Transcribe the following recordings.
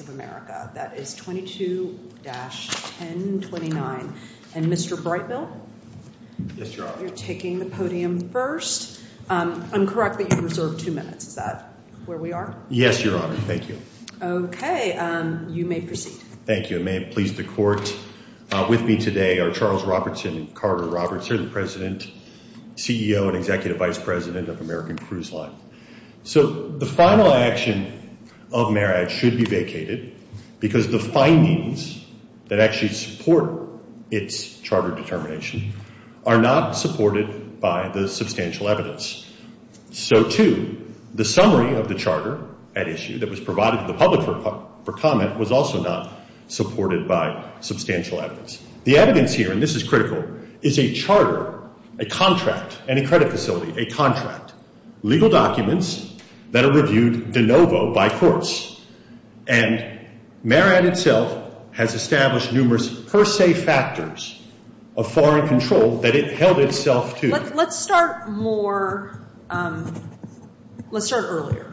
of America. That is 22-1029. And Mr. Brightbill, you're taking the podium first. I'm correct that you reserve two minutes. Is that where we are? Yes, Your Honor. Thank you. Okay. You may proceed. Thank you. I may have pleased the court. With me today are Charles Robertson and Carter Robertson, President, CEO and Executive Vice President of American Cruise Line. So the final action of Marriott should be vacated because the findings that actually support its charter determination are not supported by the substantial evidence. So too, the summary of the charter at issue that was provided to the public for comment was also not supported by substantial evidence. The evidence here, and this is critical, is a charter, a contract and a credit facility, a contract, legal documents that are reviewed de novo by courts. And Marriott itself has established numerous per se factors of foreign control that it held itself to. Let's start more, let's start earlier.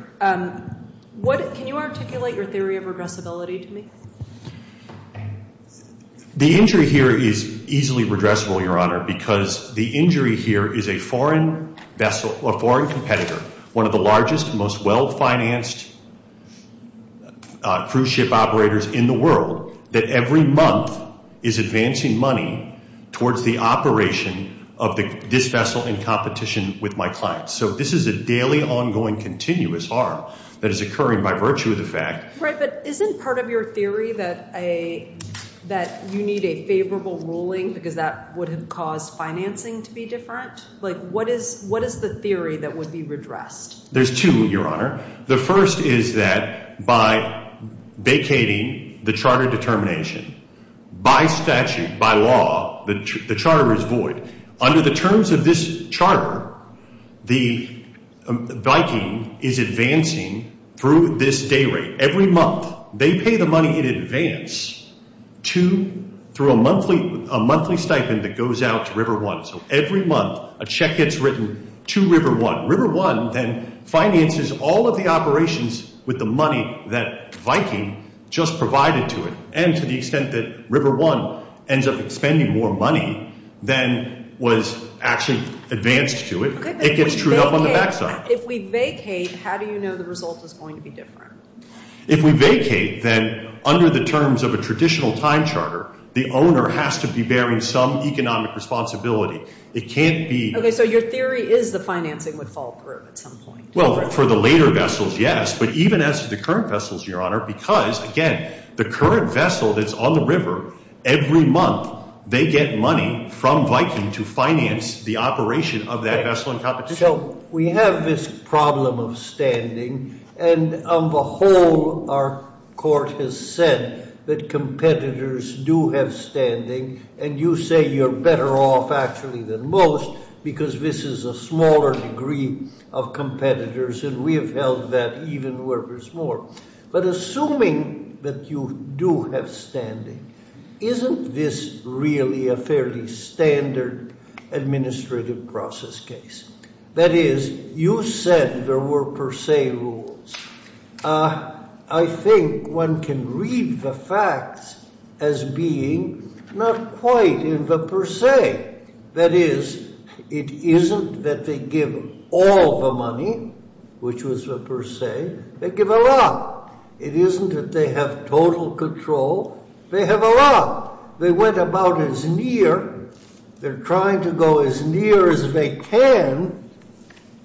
What, can you articulate your theory of regressibility to me? The injury here is easily regressible, Your Honor, because the foreign vessel, a foreign competitor, one of the largest, most well-financed cruise ship operators in the world, that every month is advancing money towards the operation of this vessel in competition with my clients. So this is a daily, ongoing, continuous harm that is occurring by virtue of the fact. Right, but isn't part of your theory that you need a favorable ruling because that would have caused financing to be different? Like, what is the theory that would be redressed? There's two, Your Honor. The first is that by vacating the charter determination, by statute, by law, the charter is void. Under the terms of this charter, the Viking is advancing through this day rate. Every month, they pay the money in advance to, through a monthly stipend that goes out to River One. So every month, a check gets written to River One. River One then finances all of the operations with the money that Viking just provided to it. And to the extent that River One ends up spending more money than was actually advanced to it, it gets trued up on the backside. If we vacate, how do you know the result is going to be different? If we vacate, then under the terms of a traditional time charter, the owner has to be bearing some economic responsibility. It can't be... Okay, so your theory is the financing would fall through at some point. Well, for the later vessels, yes, but even as the current vessels, Your Honor, because, again, the current vessel that's on the river, every month, they get money from Viking to finance the operation of that vessel in competition. So we have this problem of standing, and on the whole, our court has said that competitors do have standing, and you say you're better off actually than most because this is a smaller degree of competitors, and we have held that even where there's more. But assuming that you do have standing, isn't this really a fairly standard administrative process case? That is, you said there were per se rules. I think one can read the facts as being not quite in the per se. That is, it isn't that they give all the money, which was the per se, they give a lot. It isn't that they have total control, they have a lot. They went about as they're trying to go as near as they can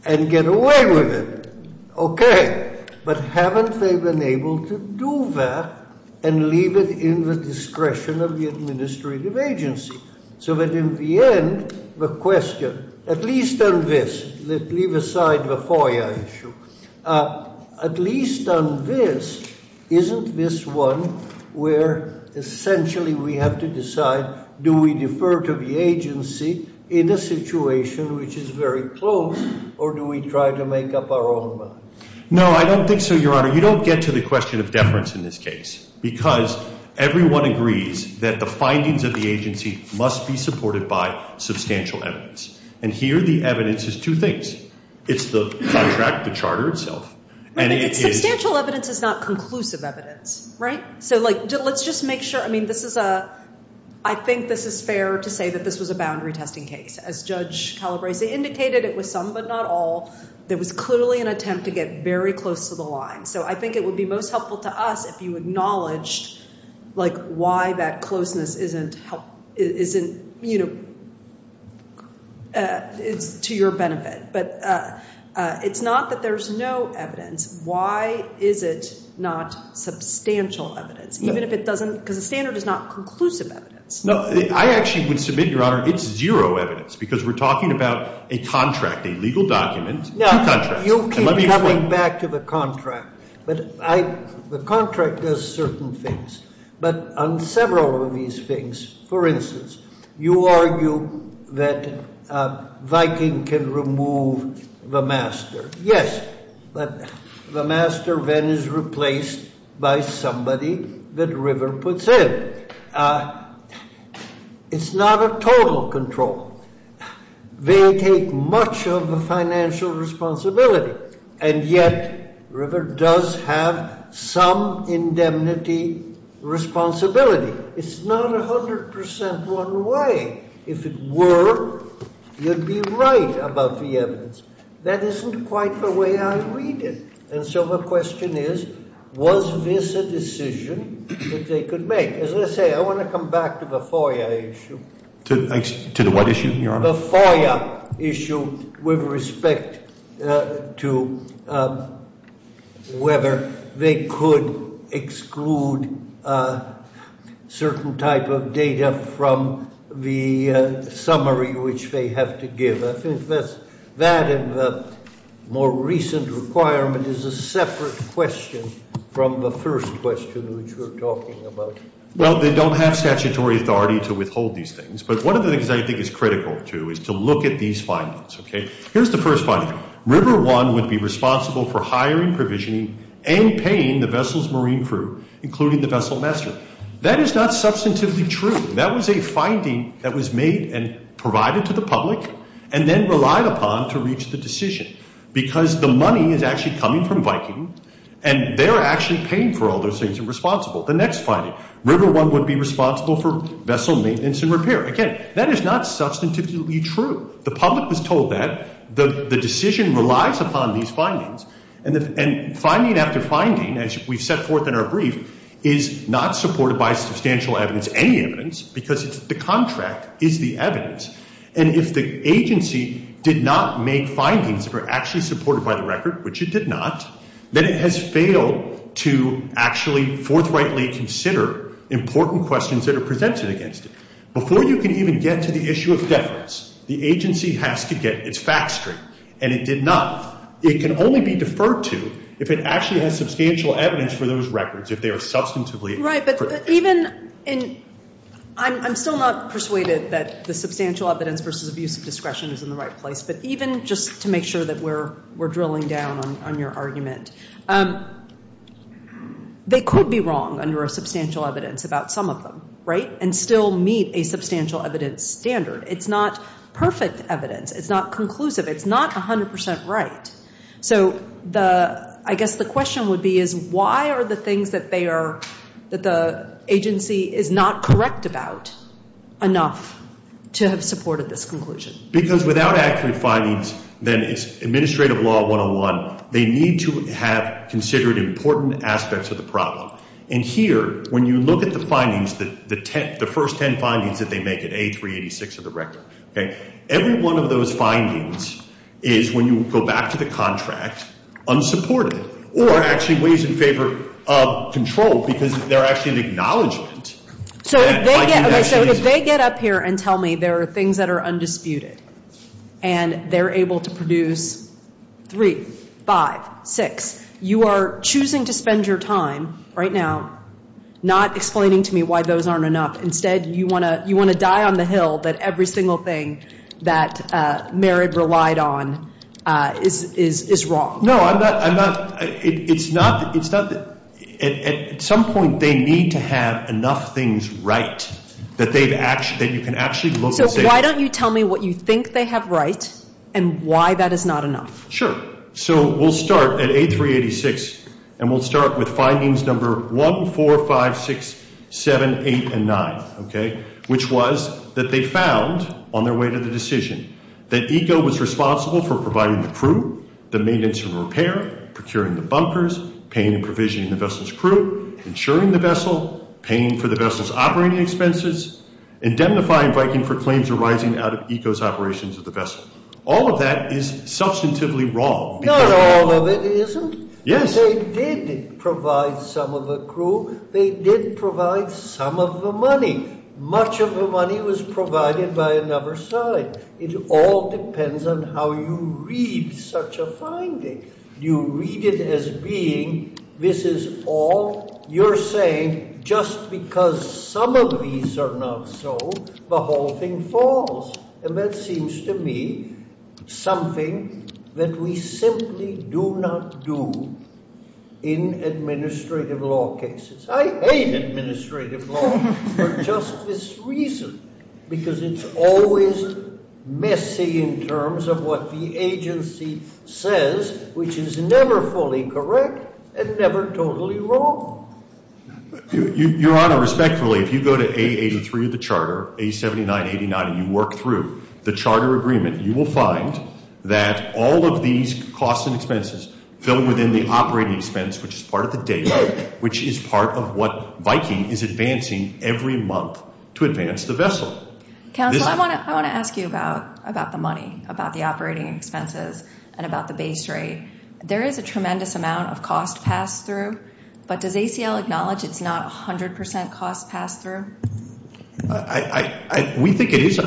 and get away with it. Okay, but haven't they been able to do that and leave it in the discretion of the administrative agency? So that in the end, the question, at least on this, let's leave aside the FOIA issue, at least on this, isn't this one where essentially we have to put the agency in a situation which is very close, or do we try to make up our own mind? No, I don't think so, your honor. You don't get to the question of deference in this case, because everyone agrees that the findings of the agency must be supported by substantial evidence. And here the evidence is two things. It's the contract, the charter itself. Substantial evidence is not conclusive evidence, right? So like, let's just make sure, I mean, this is a, I think this is fair to say that this was a boundary testing case. As Judge Calabrese indicated, it was some but not all. There was clearly an attempt to get very close to the line. So I think it would be most helpful to us if you acknowledged, like, why that closeness isn't, you know, it's to your benefit. But it's not that there's no evidence. Why is it not substantial evidence? Even if it doesn't, because the standard is not conclusive evidence. No, I actually would submit, your honor, it's zero evidence, because we're talking about a contract, a legal document. Now, you keep coming back to the contract, but I, the contract does certain things. But on several of these things, for instance, you argue that Viking can remove the master. Yes, but the master then is replaced by somebody that River puts in. It's not a total control. They take much of the financial responsibility, and yet River does have some indemnity responsibility. It's not 100% one way. If it were, you'd be right about the evidence. That isn't quite the way I read it. And so the question is, was this a decision that they could make? As I say, I want to come back to the FOIA issue. To the what issue, your honor? The FOIA issue with respect to whether they could exclude a certain type of data from the summary which they have to give. I think that and the more recent requirement is a separate question from the first question which we're talking about. Well, they don't have statutory authority to withhold these things, but one of the things I think is critical, too, is to look at these findings, okay? Here's the first finding. River One would be responsible for hiring, provisioning, and paying the vessel's marine crew, including the vessel master. That is not substantively true. That was a finding that was made and provided to the public and then relied upon to reach the decision because the money is actually coming from Viking, and they're actually paying for all those things and responsible. The next finding, River One would be responsible for vessel maintenance and repair. Again, that is not substantively true. The public was told that. The decision relies upon these findings, and finding after finding, as we've set forth in our brief, is not supported by substantial evidence, because the contract is the evidence, and if the agency did not make findings that are actually supported by the record, which it did not, then it has failed to actually forthrightly consider important questions that are presented against it. Before you can even get to the issue of deference, the agency has to get its facts straight, and it did not. It can only be deferred to if it actually has substantial evidence for those records, if they are substantively correct. Right, but even in, I'm still not persuaded that the substantial evidence versus abuse of discretion is in the right place, but even just to make sure that we're drilling down on your argument, they could be wrong under a substantial evidence about some of them, right, and still meet a substantial evidence standard. It's not perfect evidence. It's not conclusive. It's not 100% right. So the, I guess the question would be is why are the things that that the agency is not correct about enough to have supported this conclusion? Because without accurate findings, then it's administrative law 101. They need to have considered important aspects of the problem, and here, when you look at the findings, the first 10 findings that they make in A386 of the record, okay, every one of those findings is, when you go back to the contract, unsupported or actually weighs in favor of control because they're actually an acknowledgement. So if they get, okay, so if they get up here and tell me there are things that are undisputed and they're able to produce three, five, six, you are choosing to spend your time right now not explaining to me why those aren't enough. Instead, you want to, you want to die on the is, is, is wrong. No, I'm not, I'm not, it's not, it's not, at some point they need to have enough things right that they've actually, that you can actually look. So why don't you tell me what you think they have right and why that is not enough? Sure. So we'll start at A386 and we'll start with findings number 1, 4, 5, 6, 7, 8, and 9, okay, which was that they found on their way to the decision that ECO was responsible for providing the crew, the maintenance and repair, procuring the bunkers, paying and provisioning the vessel's crew, insuring the vessel, paying for the vessel's operating expenses, indemnifying Viking for claims arising out of ECO's operations of the vessel. All of that is substantively wrong. Not all of it isn't. Yes. They did provide some of the crew. They did provide some of the money. Much of the money was provided by another side. It all depends on how you read such a finding. You read it as being, this is all, you're saying just because some of these are not so, the whole thing falls. And that seems to me something that we simply do not do in administrative law cases. I hate administrative law for just this reason, because it's always messy in terms of what the agency says, which is never fully correct and never totally wrong. Your Honor, respectfully, if you go to A83 of the charter, A79, 89, and you work through the charter agreement, you will find that all of these costs and expenses fill within the operating expense, which is part of the data, which is part of what Viking is advancing every month to advance the vessel. Counsel, I want to ask you about the money, about the operating expenses, and about the base rate. There is a tremendous amount of cost passed through, but does ACL acknowledge it's not 100% cost passed through? I, we think it is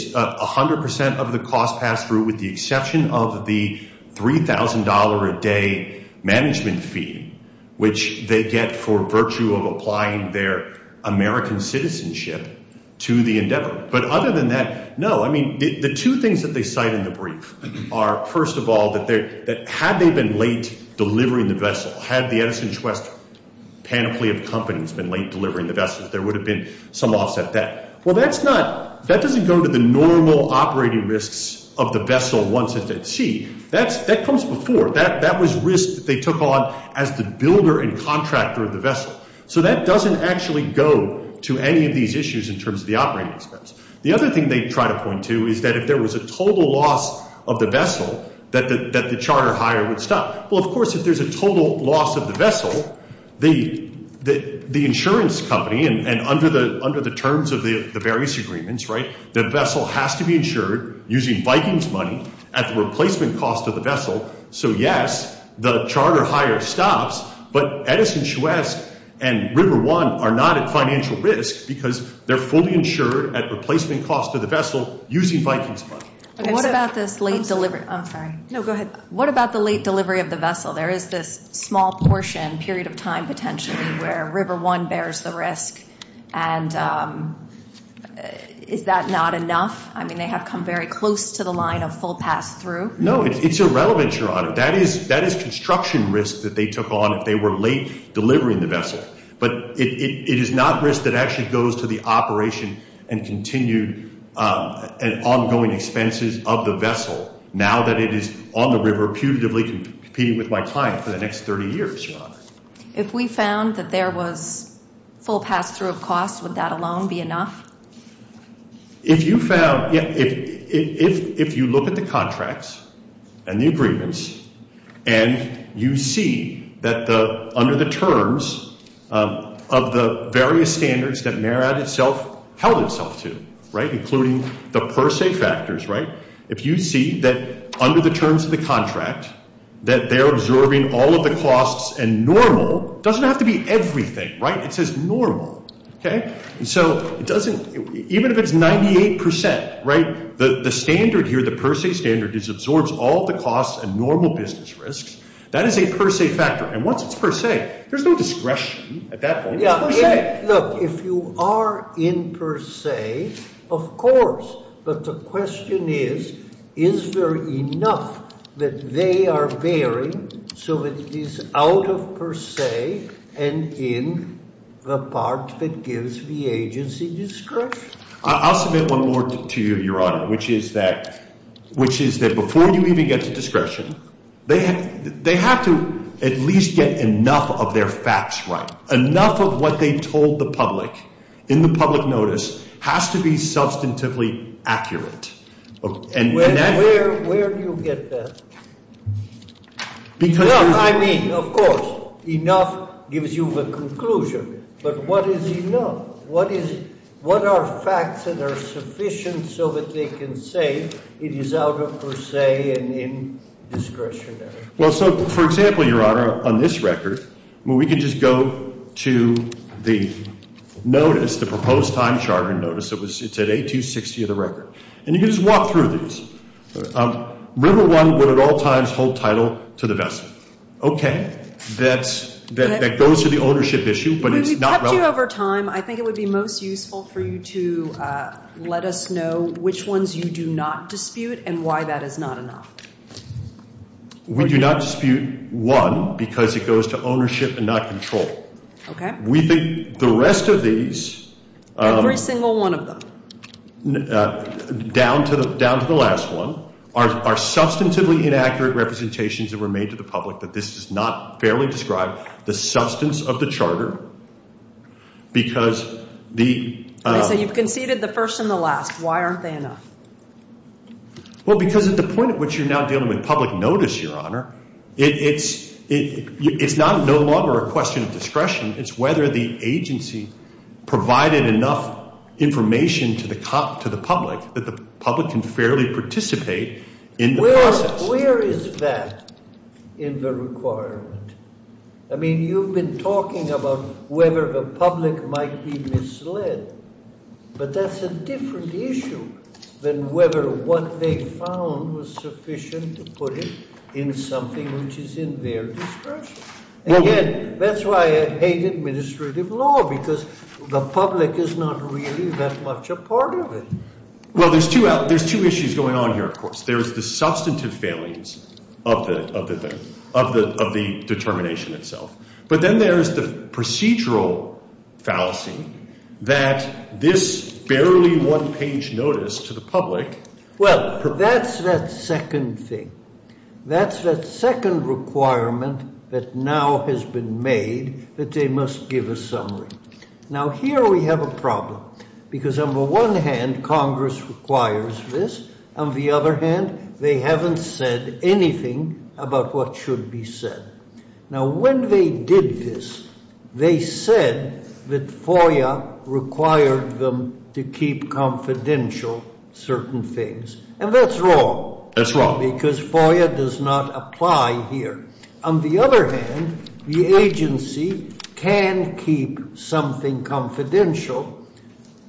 100% of the cost passed through, with the exception of the $3,000 a day management fee, which they get for virtue of applying their American citizenship to the endeavor. But other than that, no, I mean, the two things that they cite in the brief are, first of all, that they're, that had they been late delivering the vessel, had the Edison West panoply of companies been late delivering the vessel, there would have been some offset debt. Well, that's not, that doesn't go to the normal operating risks of the vessel once it's at sea. That's, that comes before. That, that was risk that they took on as the builder and contractor of the vessel. So that doesn't actually go to any of these issues in terms of the operating expense. The other thing they try to point to is that if there was a total loss of the vessel that the, that the charter hire would stop. Well, of course, if there's a total loss of the vessel, the, the, the insurance company and under the, under the terms of the various agreements, right, the vessel has to be insured using Viking's money at the replacement cost of the vessel. So yes, the charter hire stops, but Edison West and River One are not at financial risk because they're fully insured at replacement cost of the vessel using Viking's money. What about this late delivery? I'm sorry. No, go ahead. What about the late delivery of the period of time potentially where River One bears the risk? And is that not enough? I mean, they have come very close to the line of full pass through. No, it's irrelevant, Your Honor. That is, that is construction risk that they took on if they were late delivering the vessel. But it is not risk that actually goes to the operation and continued ongoing expenses of the vessel now that it is on the river putatively competing with my client for the next 30 years, Your Honor. If we found that there was full pass through of cost, would that alone be enough? If you found, if, if, if, if you look at the contracts and the agreements and you see that the, under the terms of the various standards that MARAD itself held itself to, right, including the per se factors, right, if you see that under the terms of the contract that they're absorbing all of the costs and normal, doesn't have to be everything, right? It says normal. Okay. So it doesn't, even if it's 98%, right, the, the standard here, the per se standard is absorbs all the costs and normal business risks. That is a per se factor. And once it's per se, there's no discretion at that point. Look, if you are in per se, of course, but the question is, is there enough that they are bearing so that it is out of per se and in the part that gives the agency discretion? I'll submit one more to you, Your Honor, which is that, which is that before you even get to discretion, they, they have to at least get enough of their facts, right? Enough of what they told the public in the public notice has to be substantively accurate. Where do you get that? Because I mean, of course, enough gives you the conclusion, but what is enough? What is, what are facts that are sufficient so that they can say it is out of per se and in discretionary? Well, so for example, Your Honor, on this record, when we can just go to the notice, the proposed time charter notice, it was, it's at 8-260 of the record. And you can just walk through these. River One would at all times hold title to the vessel. Okay. That's, that, that goes to the ownership issue, but it's not relevant. We've kept you over time. I think it would be most useful for you to let us know which ones you do not dispute and why that is not enough. We do not dispute one because it goes to ownership and not control. Okay. We think the rest of these, every single one of them, down to the, down to the last one are, are substantively inaccurate representations that were made to the public, that this is not fairly described the substance of the Well, because at the point at which you're now dealing with public notice, Your Honor, it's, it's not no longer a question of discretion. It's whether the agency provided enough information to the public that the public can fairly participate in the process. Where is that in the requirement? I mean, you've been talking about whether the public might be then whether what they found was sufficient to put it in something which is in their discretion. Again, that's why I hate administrative law because the public is not really that much a part of it. Well, there's two out, there's two issues going on here. Of course, there's the substantive failings of the, of the, of the, of the determination itself. But then there's the public. Well, that's that second thing. That's the second requirement that now has been made that they must give a summary. Now, here we have a problem. Because on the one hand, Congress requires this. On the other hand, they haven't said anything about what should be said. Now, when they did this, they said that FOIA required them to keep confidential certain things. And that's wrong. That's wrong. Because FOIA does not apply here. On the other hand, the agency can keep something confidential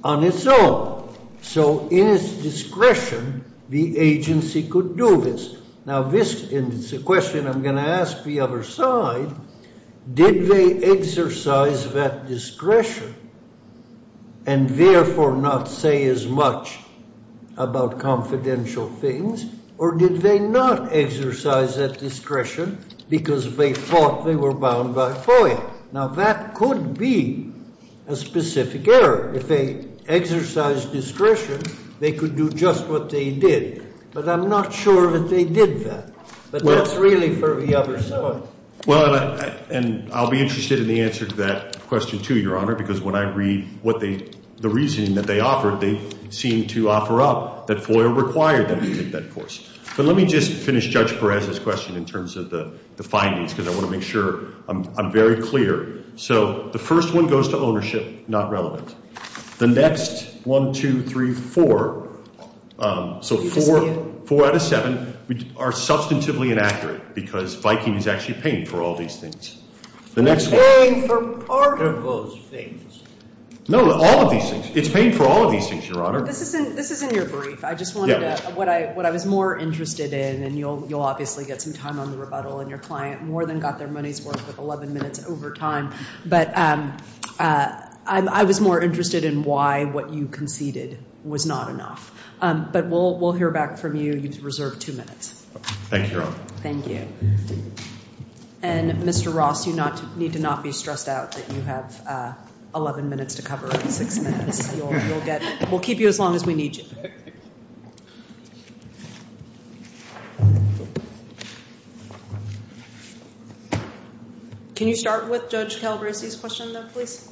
on its own. So in its discretion, the agency could do this. Now this, and it's a question I'm going to ask the other side, did they exercise that discretion and therefore not say as much about confidential things? Or did they not exercise that discretion because they thought they were bound by FOIA? Now, that could be a specific error. If they did that. But that's really for the other side. Well, and I'll be interested in the answer to that question too, Your Honor, because when I read what they, the reasoning that they offered, they seem to offer up that FOIA required them to take that course. But let me just finish Judge Perez's question in terms of the findings, because I want to make sure I'm very clear. So the first one goes to ownership, not relevant. The next one, two, three, four, so four out of seven are substantively inaccurate because Viking is actually paying for all these things. They're paying for part of those things. No, all of these things. It's paying for all of these things, Your Honor. This is in your brief. I just wanted to, what I was more interested in, and you'll obviously get some time on the rebuttal and your client more than got their money's worth with 11 minutes over time. But I was more interested in why what you conceded was not enough. But we'll hear back from you. You've reserved two minutes. Thank you, Your Honor. Thank you. And Mr. Ross, you need to not be stressed out that you have 11 minutes to cover and six minutes. We'll keep you as long as we need you. Can you start with Judge Calabresi's question, please?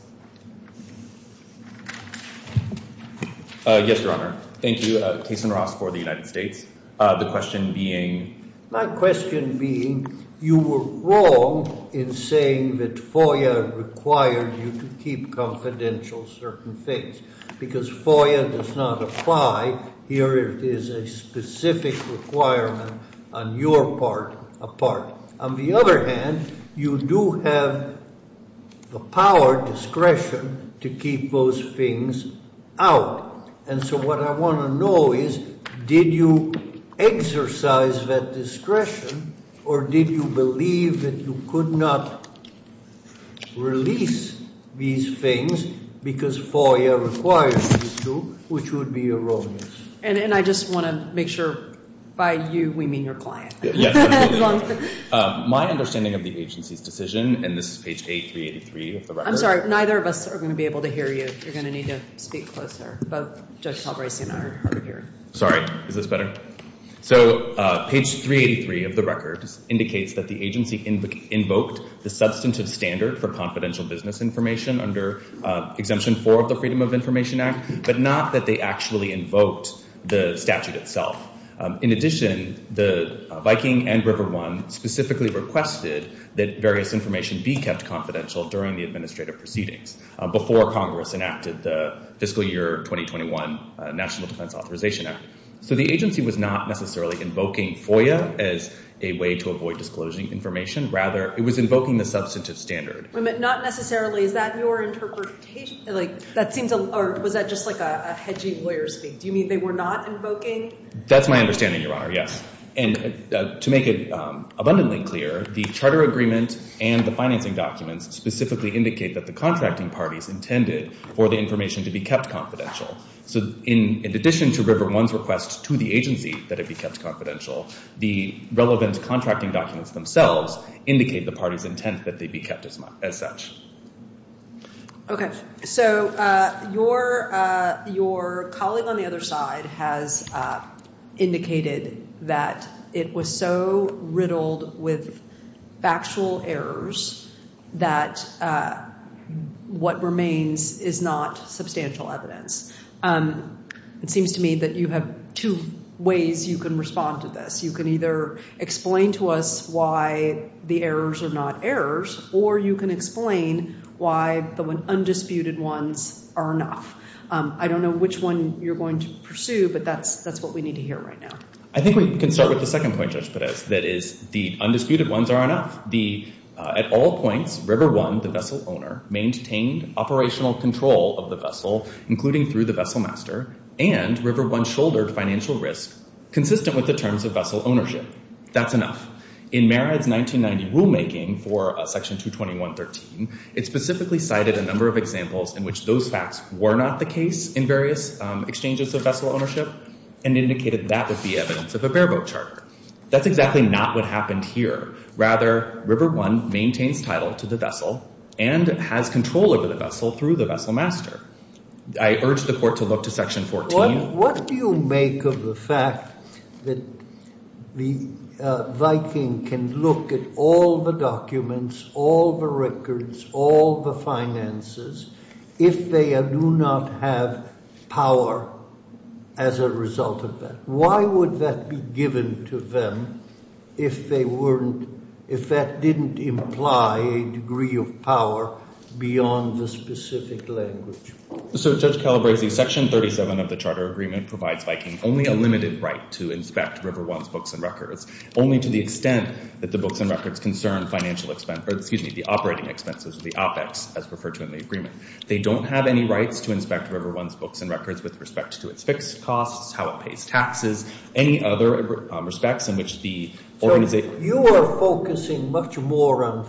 Yes, Your Honor. Thank you. Jason Ross for the United States. The question being? My question being, you were wrong in saying that FOIA required you to keep confidential certain things because FOIA does not apply here. It is a specific requirement on your part, on the other hand, you do have the power, discretion to keep those things out. And so what I want to know is, did you exercise that discretion or did you believe that you could not release these things because FOIA requires you to, which would be erroneous? And I just want to make sure by you, we mean your client. Yes. My understanding of the agency's decision, and this is page 383 of the record. I'm sorry, neither of us are going to be able to hear you. You're going to need to speak closer. Both Judge Calabresi and I are hard of hearing. Sorry. Is this better? So page 383 of the record indicates that the agency invoked the substantive standard for confidential business information under Exemption 4 of the Freedom of Information Act, but not that they actually invoked the statute itself. In addition, the Viking and RiverOne specifically requested that various information be kept confidential during the administrative proceedings before Congress enacted the fiscal year 2021 National Defense Authorization Act. So the agency was not necessarily invoking FOIA as a way to avoid disclosing information. Rather, it was invoking the substantive standard. Wait a minute, not necessarily. Is that your interpretation? That was just like a hedging lawyer speak. Do you mean they were not invoking? That's my understanding, Your Honor. Yes. And to make it abundantly clear, the charter agreement and the financing documents specifically indicate that the contracting parties intended for the information to be kept confidential. So in addition to RiverOne's request to the agency that it be kept confidential, the relevant contracting documents themselves indicate the party's intent that they be kept as such. Okay. So your colleague on the other side has indicated that it was so riddled with factual errors that what remains is not substantial evidence. It seems to me that you have two ways you can respond to this. You can either explain to us why the errors are not errors, or you can explain why the undisputed ones are enough. I don't know which one you're going to pursue, but that's what we need to hear right now. I think we can start with the second point, Judge Podesk, that is the undisputed ones are enough. At all points, RiverOne, the vessel owner, maintained operational control of the vessel, including through the vessel master, and RiverOne shouldered financial risk consistent with the terms of vessel ownership. That's enough. In Marriott's 1990 rulemaking for Section 221.13, it specifically cited a number of examples in which those facts were not the case in various exchanges of vessel ownership and indicated that would be evidence of a bareboat charter. That's exactly not what happened here. Rather, RiverOne maintains title to the vessel and has control over the vessel through the vessel master. I urge the Court to look to Section 14. What do you make of the fact that the Viking can look at all the documents, all the records, all the finances, if they do not have power as a result of that? Why would that be given to them if that didn't imply a degree of power beyond the specific language? Judge Calabresi, Section 37 of the Charter Agreement provides only a limited right to inspect RiverOne's books and records, only to the extent that the books and records concern the operating expenses, the OPEX, as referred to in the agreement. They don't have any rights to inspect RiverOne's books and records with respect to its fixed costs, how it pays taxes, any other respects in which the organization... So you are focusing much more on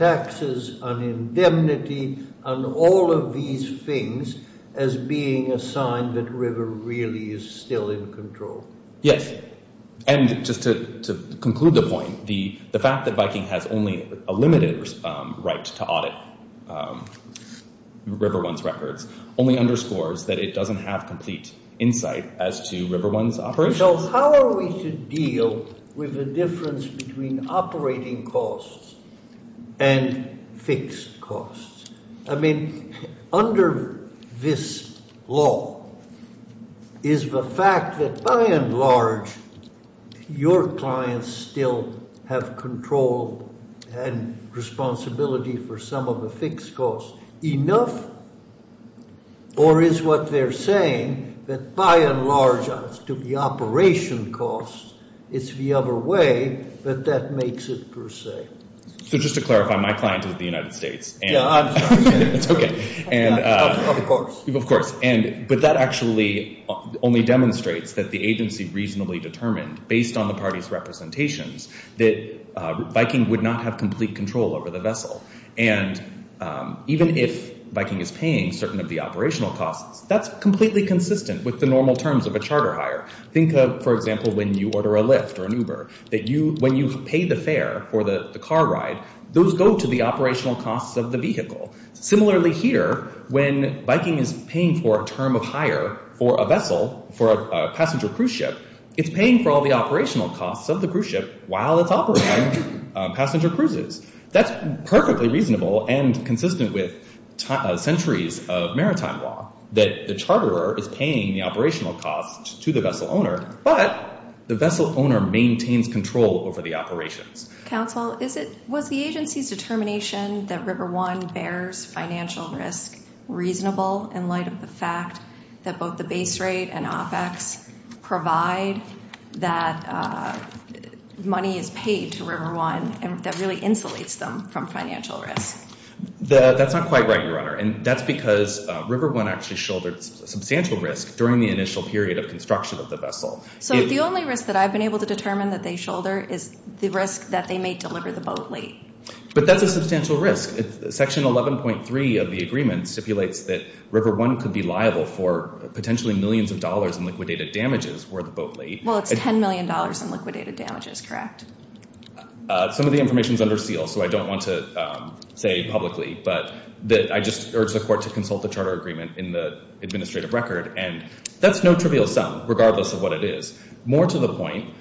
really is still in control. Yes, and just to conclude the point, the fact that Viking has only a limited right to audit RiverOne's records only underscores that it doesn't have complete insight as to RiverOne's operations. So how are we to deal with the difference between operating costs and fixed costs? I mean, under this law, is the fact that, by and large, your clients still have control and responsibility for some of the fixed costs enough? Or is what they're saying that, by and large, to the operation costs, it's the other way, but that makes it per se? So just to clarify, my client is the United States. Yeah, I'm sorry. It's okay. Of course. Of course. But that actually only demonstrates that the agency reasonably determined, based on the party's representations, that Viking would not have complete control over the vessel. And even if Viking is paying certain of the operational costs, that's completely consistent with the normal terms of a charter hire. Think of, for example, when you order a fare, when you pay the fare for the car ride, those go to the operational costs of the vehicle. Similarly here, when Viking is paying for a term of hire for a vessel, for a passenger cruise ship, it's paying for all the operational costs of the cruise ship while it's operating passenger cruises. That's perfectly reasonable and consistent with centuries of maritime law, that the charterer is paying the operational costs to the vessel owner, but the vessel owner maintains control over the operations. Counsel, was the agency's determination that River One bears financial risk reasonable in light of the fact that both the base rate and OPEX provide that money is paid to River One and that really insulates them from financial risk? That's not quite right, Your Honor. And that's because River One actually shouldered substantial risk during the initial period of construction of the vessel. So the only risk that I've been able to determine that they shoulder is the risk that they may deliver the boat late. But that's a substantial risk. Section 11.3 of the agreement stipulates that River One could be liable for potentially millions of dollars in liquidated damages were the boat late. Well, it's 10 million dollars in liquidated damages, correct? Some of the information is under seal, so I don't want to say publicly, but that I just urge the court to consult the charter agreement in the administrative record. And that's no trivial sum, regardless of what it is. More to the point,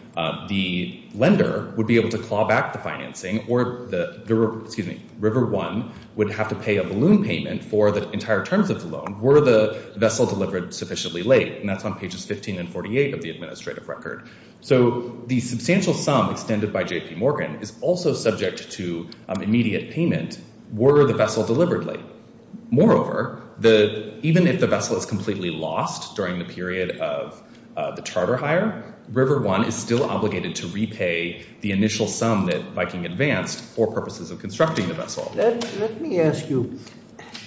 the lender would be able to claw back the financing or River One would have to pay a balloon payment for the entire terms of the loan were the vessel delivered sufficiently late. And that's on pages 15 and 48 of the administrative record. So the substantial sum extended by J.P. Morgan is also subject to immediate payment were the vessel delivered late. Moreover, even if the vessel is completely lost during the period of the charter hire, River One is still obligated to repay the initial sum that Viking advanced for purposes of constructing the vessel. Let me ask you,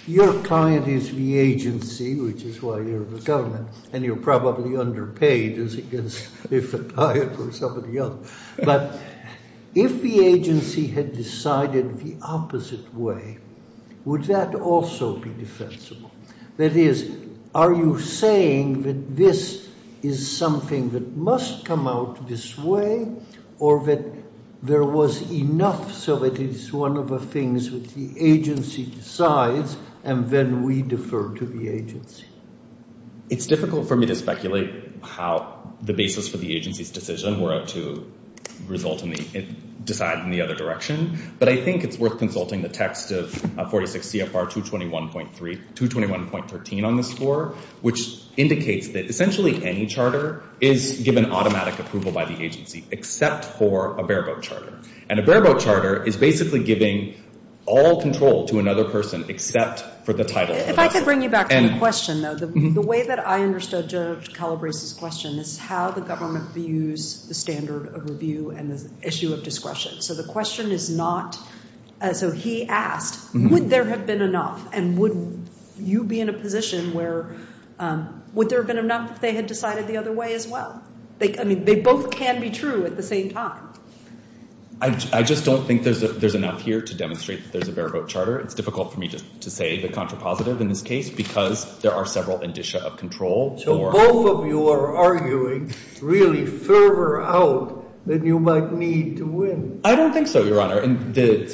your client is the agency, which is why you're the government, and you're probably underpaid as against if a client were somebody else. But if the agency had decided the opposite way, would that also be defensible? That is, are you saying that this is something that must come out this way or that there was enough so that it's one of the things that the agency decides and then we defer to the agency? It's difficult for me to speculate how the basis for the agency's decision were to result in the, decide in the other direction. But I think it's worth consulting the text of 46 CFR 221.13 on the score, which indicates that essentially any charter is given automatic approval by the agency except for a bareboat charter. And a bareboat charter is basically giving all control to another person except for the title. If I could bring you back to the question though, the way that I understood Judge Calabrese's question is how the government views the standard and the issue of discretion. So the question is not, so he asked, would there have been enough? And would you be in a position where, would there have been enough if they had decided the other way as well? I mean, they both can be true at the same time. I just don't think there's enough here to demonstrate that there's a bareboat charter. It's difficult for me to say the contrapositive in this case, because there are several indicia of control. So both of you are arguing really fervor out that you might need to win. I don't think so, Your Honor. And the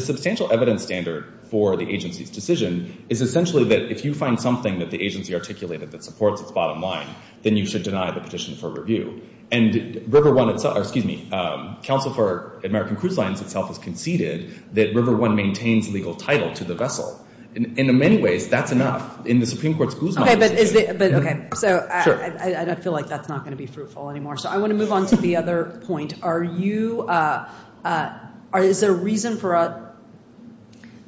substantial evidence standard for the agency's decision is essentially that if you find something that the agency articulated that supports its bottom line, then you should deny the petition for review. And River One itself, excuse me, Counsel for American Cruise Lines itself has conceded that River One maintains legal title to the vessel. In many ways, that's enough. In the Supreme Court's Guzman decision. But okay, so I feel like that's not going to be fruitful anymore. So I want to move on to the other point. Are you, is there a reason for,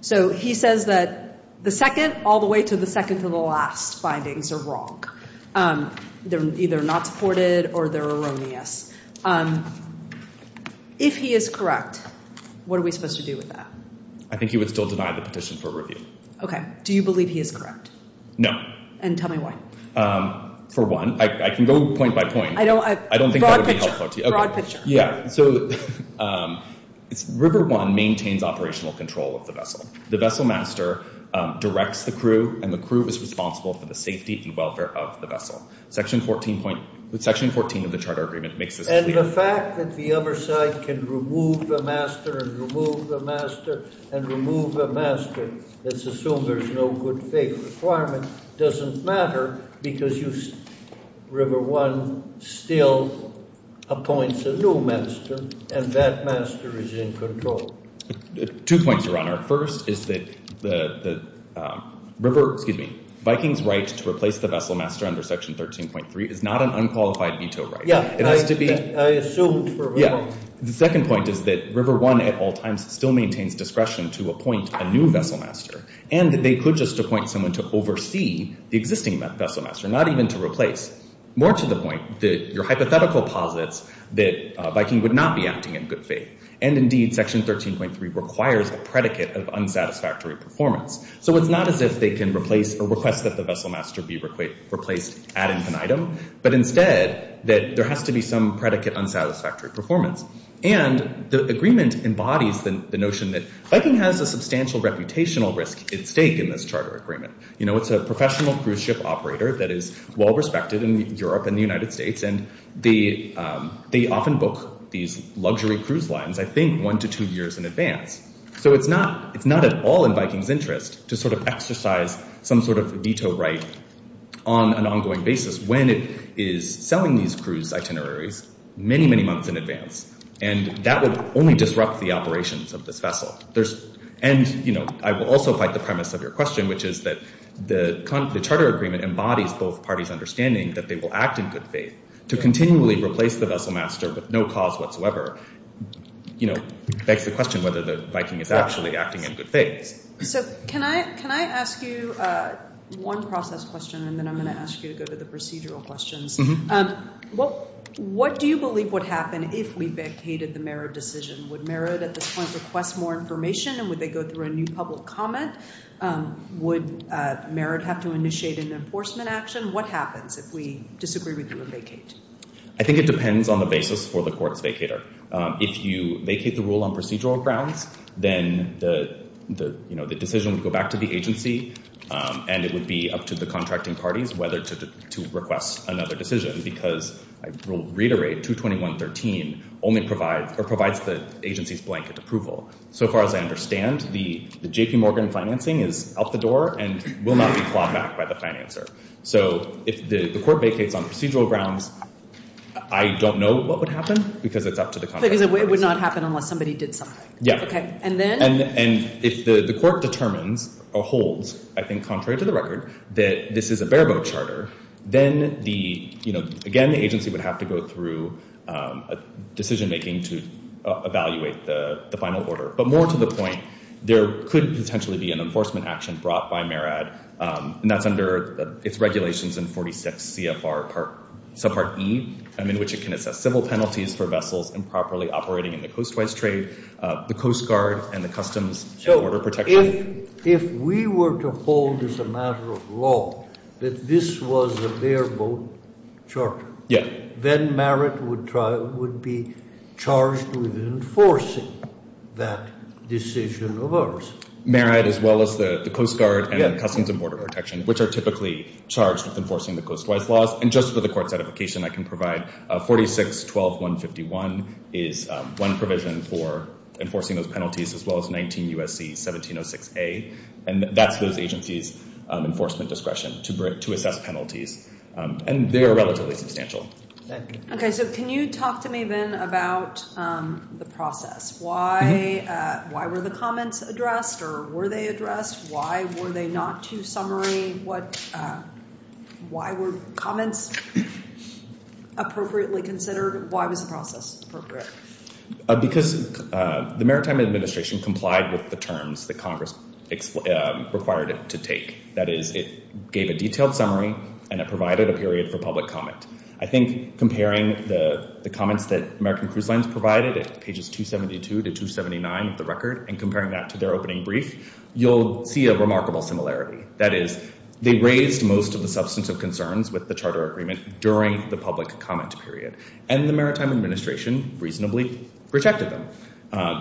so he says that the second all the way to the second to the last findings are wrong. They're either not supported or they're erroneous. If he is correct, what are we supposed to do with that? I think he would still deny the petition for review. Okay. Do you believe he is correct? No. And tell me why. For one, I can go point by point. I don't think that would be helpful to you. Broad picture. Broad picture. Yeah. So River One maintains operational control of the vessel. The vessel master directs the crew and the crew is responsible for the safety and welfare of the vessel. Section 14 of the Charter Agreement makes this clear. And the fact that the other side can remove the master and remove the master and remove the master let's assume there's no good faith requirement, doesn't matter because River One still appoints a new master and that master is in control. Two points, Your Honor. First is that River, excuse me, Viking's right to replace the vessel master under Section 13.3 is not an unqualified veto right. Yeah. It has to be. I assumed for River One. The second point is that to appoint a new vessel master and that they could just appoint someone to oversee the existing vessel master, not even to replace. More to the point, your hypothetical posits that Viking would not be acting in good faith. And indeed, Section 13.3 requires a predicate of unsatisfactory performance. So it's not as if they can replace or request that the vessel master be replaced ad infinitum, but instead that there has to be some predicate unsatisfactory performance. And the agreement embodies the notion that Viking has a substantial reputational risk at stake in this charter agreement. It's a professional cruise ship operator that is well-respected in Europe and the United States. And they often book these luxury cruise lines, I think one to two years in advance. So it's not at all in Viking's interest to sort of exercise some sort of veto right on an ongoing basis when it is selling these cruise itineraries many, many months in advance. And that would only disrupt the operations of this vessel. And, you know, I will also fight the premise of your question, which is that the charter agreement embodies both parties' understanding that they will act in good faith. To continually replace the vessel master with no cause whatsoever, you know, begs the question whether the Viking is actually acting in good faith. So can I ask you one process question and then I'm going to ask you to go to the If we vacated the Merritt decision, would Merritt at this point request more information and would they go through a new public comment? Would Merritt have to initiate an enforcement action? What happens if we disagree with you and vacate? I think it depends on the basis for the court's vacator. If you vacate the rule on procedural grounds, then the decision would go back to the agency and it would be up to the contracting parties whether to request another decision. Because I will reiterate 221.13 only provides the agency's blanket approval. So far as I understand, the J.P. Morgan financing is out the door and will not be clawed back by the financer. So if the court vacates on procedural grounds, I don't know what would happen because it's up to the contracting parties. Because it would not happen unless somebody did something. Yeah. Okay. And then? And if the court determines or holds, I think contrary to the record, that this is a bare-bone charter, then the, you know, again, the agency would have to go through a decision-making to evaluate the final order. But more to the point, there could potentially be an enforcement action brought by Merritt, and that's under its regulations in 46 CFR subpart E, in which it can assess civil penalties for vessels improperly operating in the coastwise trade, the Coast Guard, and the charter. Yeah. Then Merritt would try, would be charged with enforcing that decision of ours. Merritt, as well as the Coast Guard, and Customs and Border Protection, which are typically charged with enforcing the coastwise laws. And just for the court's edification, I can provide 46.12.151 is one provision for enforcing those penalties, as well as 19 U.S.C. 1706A. And that's those agencies' enforcement discretion to assess penalties. And they are relatively substantial. Okay. So can you talk to me, then, about the process? Why were the comments addressed, or were they addressed? Why were they not to summary? Why were comments appropriately considered? Why was the process appropriate? Because the Maritime Administration complied with the terms that Congress required it to take. That is, it gave a detailed summary, and it provided a period for public comment. I think comparing the comments that American Cruise Lines provided at pages 272 to 279 of the record, and comparing that to their opening brief, you'll see a remarkable similarity. That is, they raised most of the substantive concerns with the charter agreement during the protection.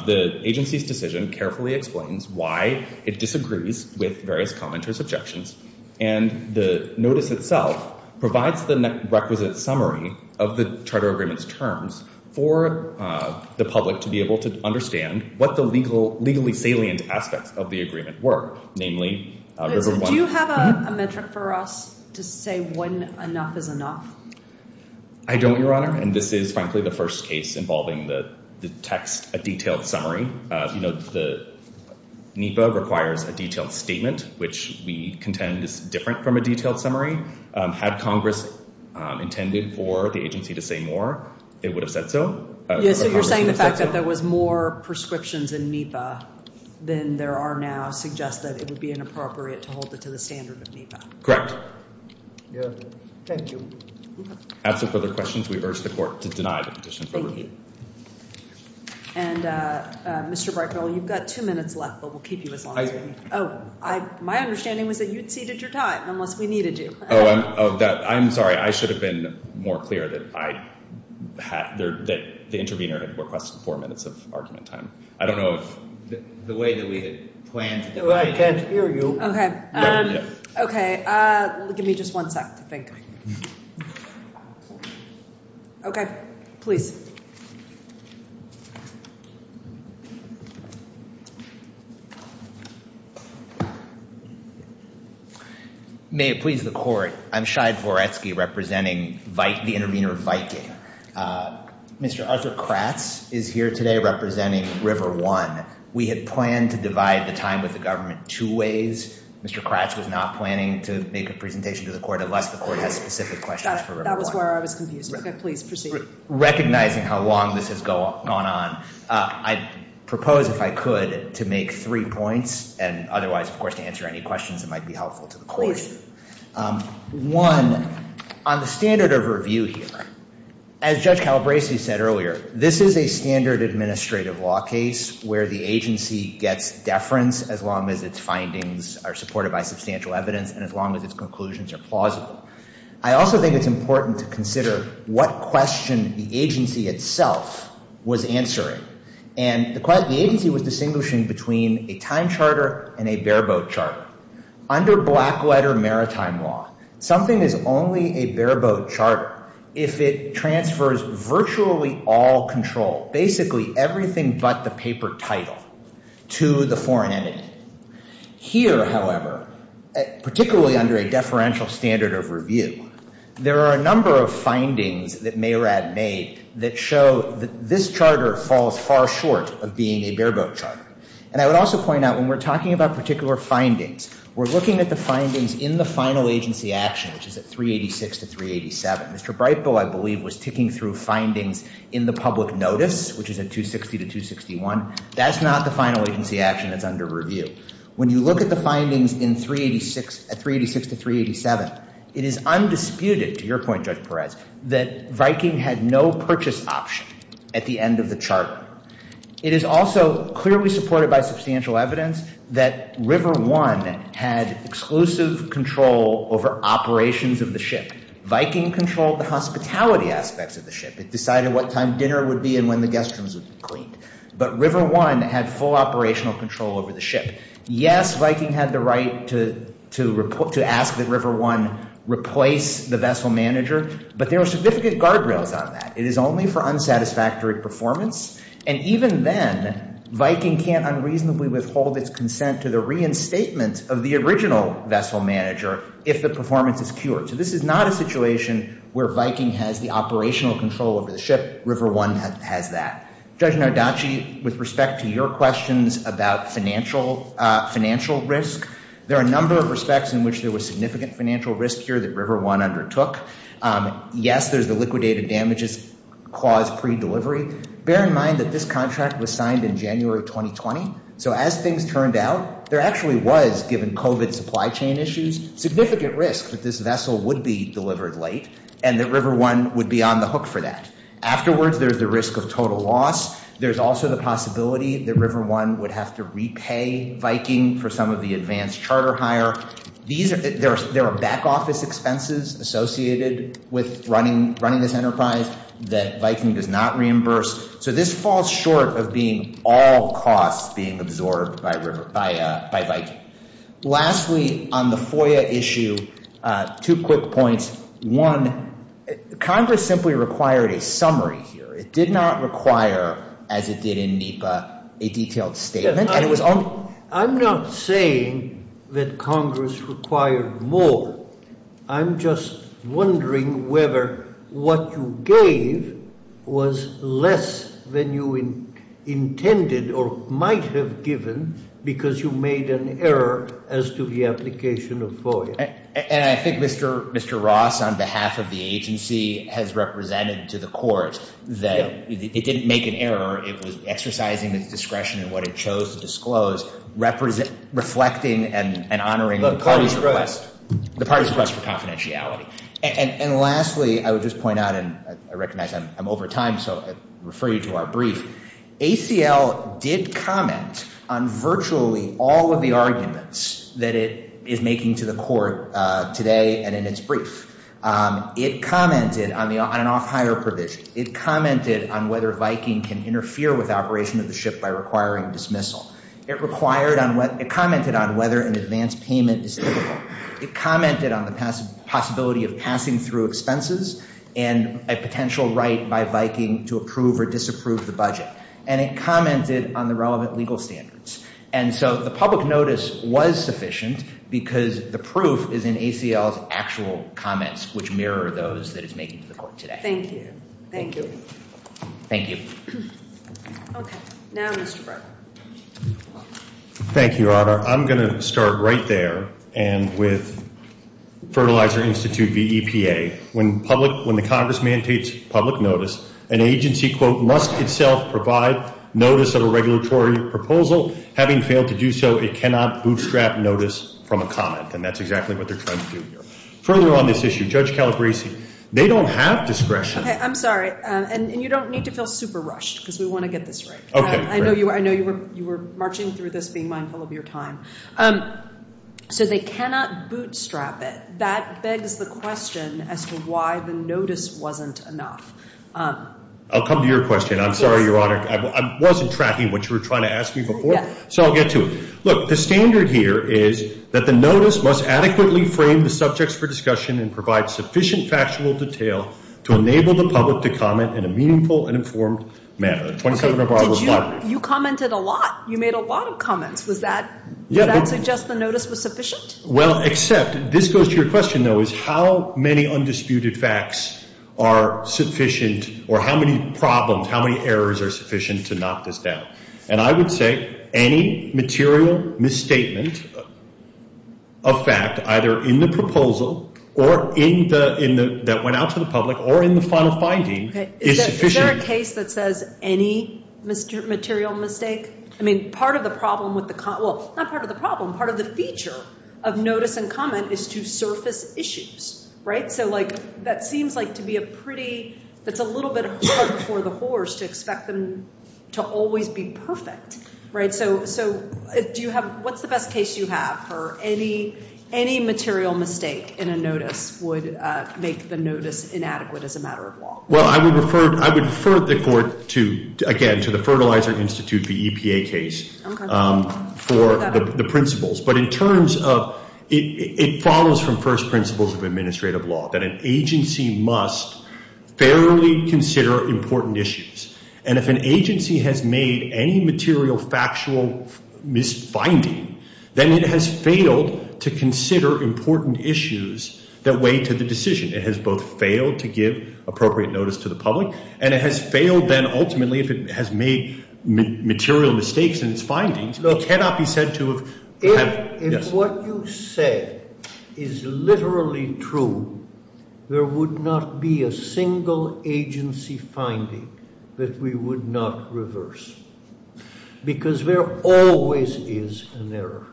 The agency's decision carefully explains why it disagrees with various commenters' objections, and the notice itself provides the requisite summary of the charter agreement's terms for the public to be able to understand what the legally salient aspects of the agreement were. Do you have a metric for us to say when enough is enough? I don't, Your Honor, and this is, frankly, the first case involving the text, a detailed summary. NEPA requires a detailed statement, which we contend is different from a detailed summary. Had Congress intended for the agency to say more, it would have said so. So you're saying the fact that there was more prescriptions in NEPA than there are now suggests that it would be inappropriate to hold it to the standard of NEPA? Correct. Yes, thank you. After further questions, we urge the Court to deny the petition for review. And, Mr. Breitbarl, you've got two minutes left, but we'll keep you as long as you need. Oh, my understanding was that you'd ceded your time, unless we needed you. Oh, I'm sorry. I should have been more clear that the intervener had requested four minutes of argument time. I don't know if the way that we had planned to do that. Well, I can't hear you. Okay, give me just one sec to think. Okay, please. May it please the Court, I'm Shai Voretsky representing the intervener Viking. Mr. Arthur Kratz is here today representing RiverOne. We had planned to divide the time with the government two ways. Mr. Kratz was not planning to make a presentation to the Court, unless the Court has specific questions for RiverOne. That was where I was confused. Okay, please proceed. Recognizing how long this has gone on, I propose, if I could, to make three points, and otherwise, of course, to answer any questions that might be helpful to the Court. One, on the standard of review here, as Judge Calabresi said earlier, this is a standard administrative law case where the agency gets deference, as long as its findings are supported by substantial evidence, and as long as its conclusions are plausible. I also think it's important to consider what question the agency itself was answering. And the agency was distinguishing between a time charter and a bare-boat charter. Under black-letter maritime law, something is only a bare-boat charter if it transfers virtually all control, basically everything but the paper title, to the foreign entity. Here, however, particularly under a deferential standard of review, there are a number of findings that Mayrad made that show that this charter falls far short of being a bare-boat charter. And I would also point out, when we're talking about particular findings, we're looking at the findings in the final agency action, which is at 386 to 387. Mr. Breitbaugh, I believe, was ticking through findings in the public notice, which is at 260 to 261. That's not the final agency action that's under review. When you look at the findings at 386 to 387, it is undisputed, to your point, Judge Perez, that Viking had no purchase option at the end of the charter. It is also clearly supported by substantial evidence that River One had exclusive control over operations of the ship. Viking controlled the hospitality aspects of the ship. It decided what time dinner would be and when the guest rooms would be cleaned. But River One had full operational control over the ship. Yes, Viking had the right to ask that River One replace the vessel manager, but there are significant guardrails on that. It is only for unsatisfactory performance. And even then, Viking can't unreasonably withhold its consent to the reinstatement of the original vessel manager if the performance is cured. So this is not a situation where Viking has the operational control over the ship. River One has that. Judge Nardacci, with respect to your questions about financial risk, there are a number of respects in which there was significant financial risk here that River One undertook. Yes, there's the liquidated damages caused pre-delivery. Bear in mind that this contract was signed in January 2020. So as things turned out, there actually was, given COVID supply chain issues, significant risk that this vessel would be delivered late and that River One would be on the hook for that. Afterwards, there's the risk of total loss. There's also the possibility that River One would have to repay Viking for some of the advanced charter hire. There are back office expenses associated with running this enterprise that Viking does not reimburse. So this falls short of being all costs being absorbed by Viking. Lastly, on the FOIA issue, two quick points. One, Congress simply required a summary here. It did not require, as it did in NEPA, a detailed statement. I'm not saying that Congress required more. I'm just wondering whether what you gave was less than you intended or might have given because you made an error as to the application of FOIA. And I think Mr. Ross, on behalf of the agency, has represented to the court that it didn't make an error. It was exercising its discretion in what it chose to disclose, reflecting and honoring the party's request for confidentiality. And lastly, I would just point out, and I recognize I'm over time, so I refer you to our brief. ACL did comment on virtually all of the arguments that it is making to the court today and in its brief. It commented on an off-hire provision. It commented on whether Viking can interfere with operation of the ship by requiring dismissal. It required on what, it commented on whether an advance payment is typical. It commented on the possibility of passing through expenses and a potential right by Viking to approve or disapprove the budget. And it commented on the relevant legal standards. And so the public notice was sufficient because the proof is in ACL's actual comments, which mirror those that it's making to the court today. Thank you. Thank you. Thank you. Okay. Now, Mr. Brewer. Thank you, Your Honor. I'm going to start right there and with Fertilizer Institute v. EPA. When the Congress mandates public notice, an agency, quote, must itself provide notice of a regulatory proposal. Having failed to do so, it cannot bootstrap notice from a comment. And that's exactly what they're trying to do here. Further on this issue, Judge Calabresi, they don't have discretion. Okay. I'm sorry. And you don't need to feel super rushed because we want to get this right. Okay. I know you were marching through this being mindful of your time. So they cannot bootstrap it. That begs the question as to why the notice wasn't enough. I'll come to your question. I'm sorry, Your Honor. I wasn't tracking what you were trying to ask me before. So I'll get to it. Look, the standard here is that the notice must adequately frame the subjects for discussion and provide sufficient factual detail to enable the public to comment in a meaningful and informed manner. You commented a lot. You made a lot of comments. Does that suggest the notice was sufficient? Well, except this goes to your question, though, is how many undisputed facts are sufficient or how many problems, how many errors are sufficient to knock this down? And I would say any material misstatement of fact, either in the proposal or that went out to the public, or in the final finding is sufficient. Is there a case that says any material mistake? I mean, part of the problem with the, well, not part of the problem, part of the feature of notice and comment is to surface issues, right? So that seems like to be a pretty, that's a little bit hard for the whores to expect them to always be perfect, right? So what's the best case you have for any material mistake in a notice would make the notice inadequate as a matter of law? Well, I would refer the court to, again, to the Fertilizer Institute, the EPA case for the principles. But in terms of, it follows from first principles of administrative law that an agency must fairly consider important issues. And if an agency has made any material factual misfinding, then it has failed to consider important issues that weigh to the decision. It has both failed to give appropriate notice to the public and it has failed then ultimately if it has made material mistakes in its findings. It cannot be said to have... If what you say is literally true, there would not be a single agency finding that we would not reverse because there always is an error.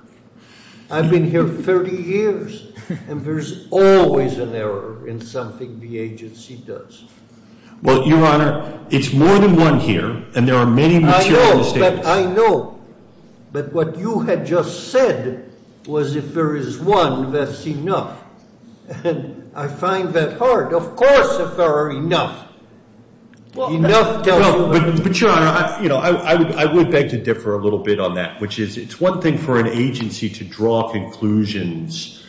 I've been here 30 years and there's always an error in something the agency does. Well, Your Honor, it's more than one here. And there are many material mistakes. I know. But what you had just said was if there is one, that's enough. And I find that hard. Of course, if there are enough. Enough tells you... But Your Honor, I would beg to differ a little bit on that, which is it's one thing for an agency to draw conclusions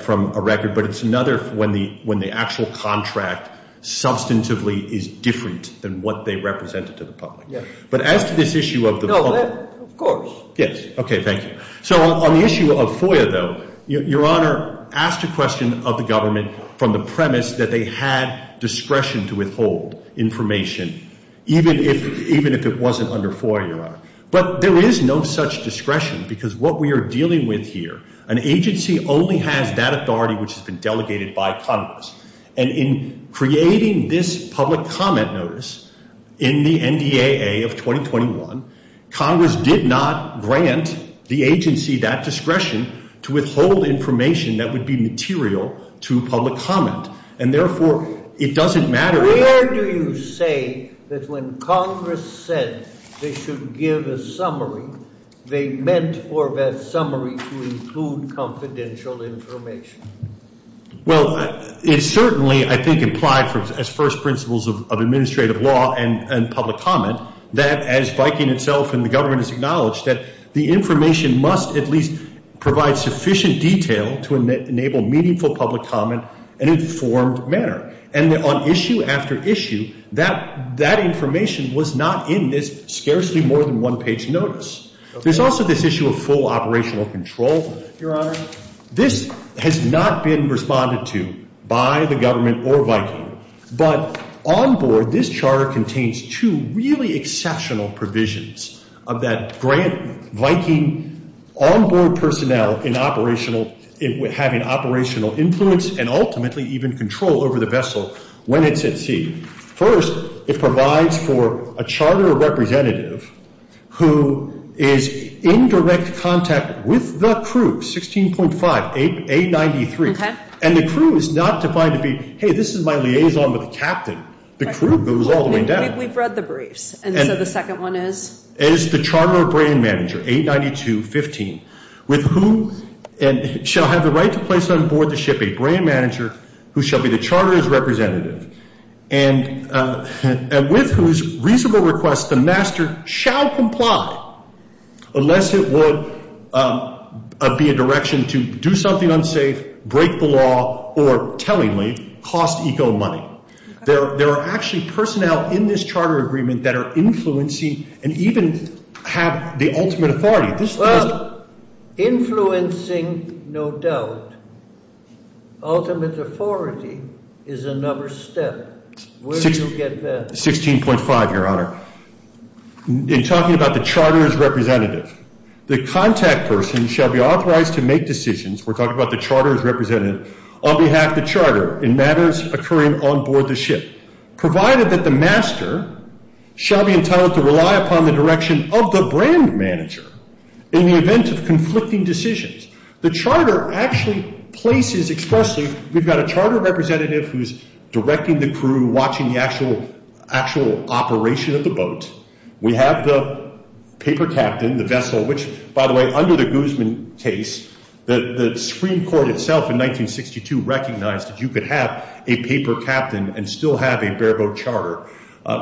from a record. But it's another when the actual contract substantively is different than what they represented to the public. But as to this issue of the... No, of course. Yes. Okay, thank you. So on the issue of FOIA, though, Your Honor, asked a question of the government from the premise that they had discretion to withhold information, even if it wasn't under FOIA, Your Honor. But there is no such discretion because what we are dealing with here, an agency only has that authority which has been delegated by Congress. And in creating this public comment notice in the NDAA of 2021, Congress did not grant the agency that discretion to withhold information that would be material to public comment. And therefore, it doesn't matter... Where do you say that when Congress said they should give a summary, they meant for that summary to include confidential information? Well, it certainly, I think, implied as first principles of administrative law and public comment that as Viking itself and the government has acknowledged that the information must at least provide sufficient detail to enable meaningful public comment in an informed manner. And on issue after issue, that information was not in this scarcely more than one page notice. There's also this issue of full operational control, Your Honor. This has not been responded to by the government or Viking. But onboard, this charter contains two really exceptional provisions of that grant Viking onboard personnel in operational, having operational influence and ultimately even control over the vessel when it's at sea. First, it provides for a charter representative who is in direct contact with the crew, 16.5, A93. And the crew is not defined to be, hey, this is my liaison with the captain. The crew goes all the way down. We've read the briefs. And so the second one is? Is the charter brand manager, 892.15, with whom and shall have the right to place on board the ship a brand manager who shall be the charter's representative and with whose reasonable request the master shall comply unless it would be a direction to do something unsafe, break the law, or tellingly cost eco money. There are actually personnel in this charter agreement that are influencing and even have the ultimate authority. Well, influencing, no doubt. Ultimate authority is another step. Where do you get that? 16.5, Your Honor. In talking about the charter's representative, the contact person shall be authorized to make decisions, we're talking about the charter's representative, on behalf of the charter in matters occurring on board the ship, provided that the master shall be entitled to rely upon the direction of the brand manager in the event of conflicting decisions. The charter actually places expressly, we've got a charter representative who's directing the crew, watching the actual operation of the boat. We have the paper captain, the vessel, which, by the way, under the Guzman case, the Supreme Court itself in 1962 recognized that you could have a paper captain and still have a bareboat charter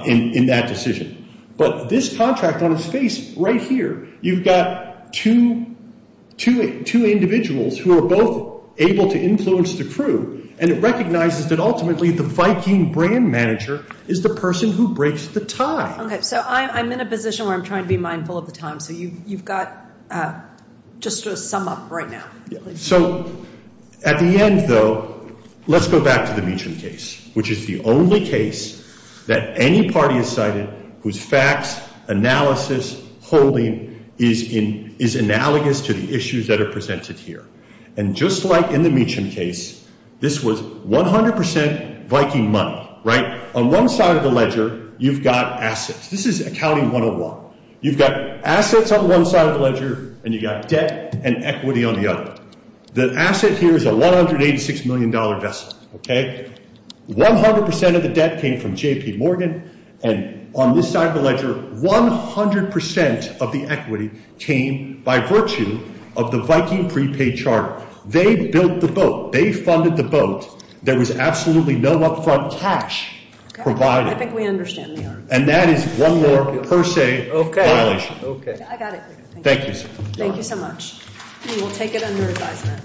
in that decision. But this contract on its face right here, you've got two individuals who are both able to influence the crew, and it recognizes that ultimately the Viking brand manager is the person who breaks the tie. Okay, so I'm in a position where I'm trying to be mindful of the time, so you've got just to sum up right now. So at the end, though, let's go back to the Meacham case, which is the only case that any party has cited whose facts, analysis, holding is analogous to the issues that are presented here. And just like in the Meacham case, this was 100% Viking money, right? On one side of the ledger, you've got assets. This is Accounting 101. You've got assets on one side of the ledger, and you've got debt and equity on the other. The asset here is a $186 million vessel, okay? 100% of the debt came from J.P. Morgan and on this side of the ledger, 100% of the equity came by virtue of the Viking prepaid charter. They built the boat. They funded the boat. There was absolutely no upfront cash provided. Okay, I think we understand the argument. And that is one more per se violation. Okay, okay. I got it. Thank you, sir. Thank you so much. And we'll take it under advisement. Okay.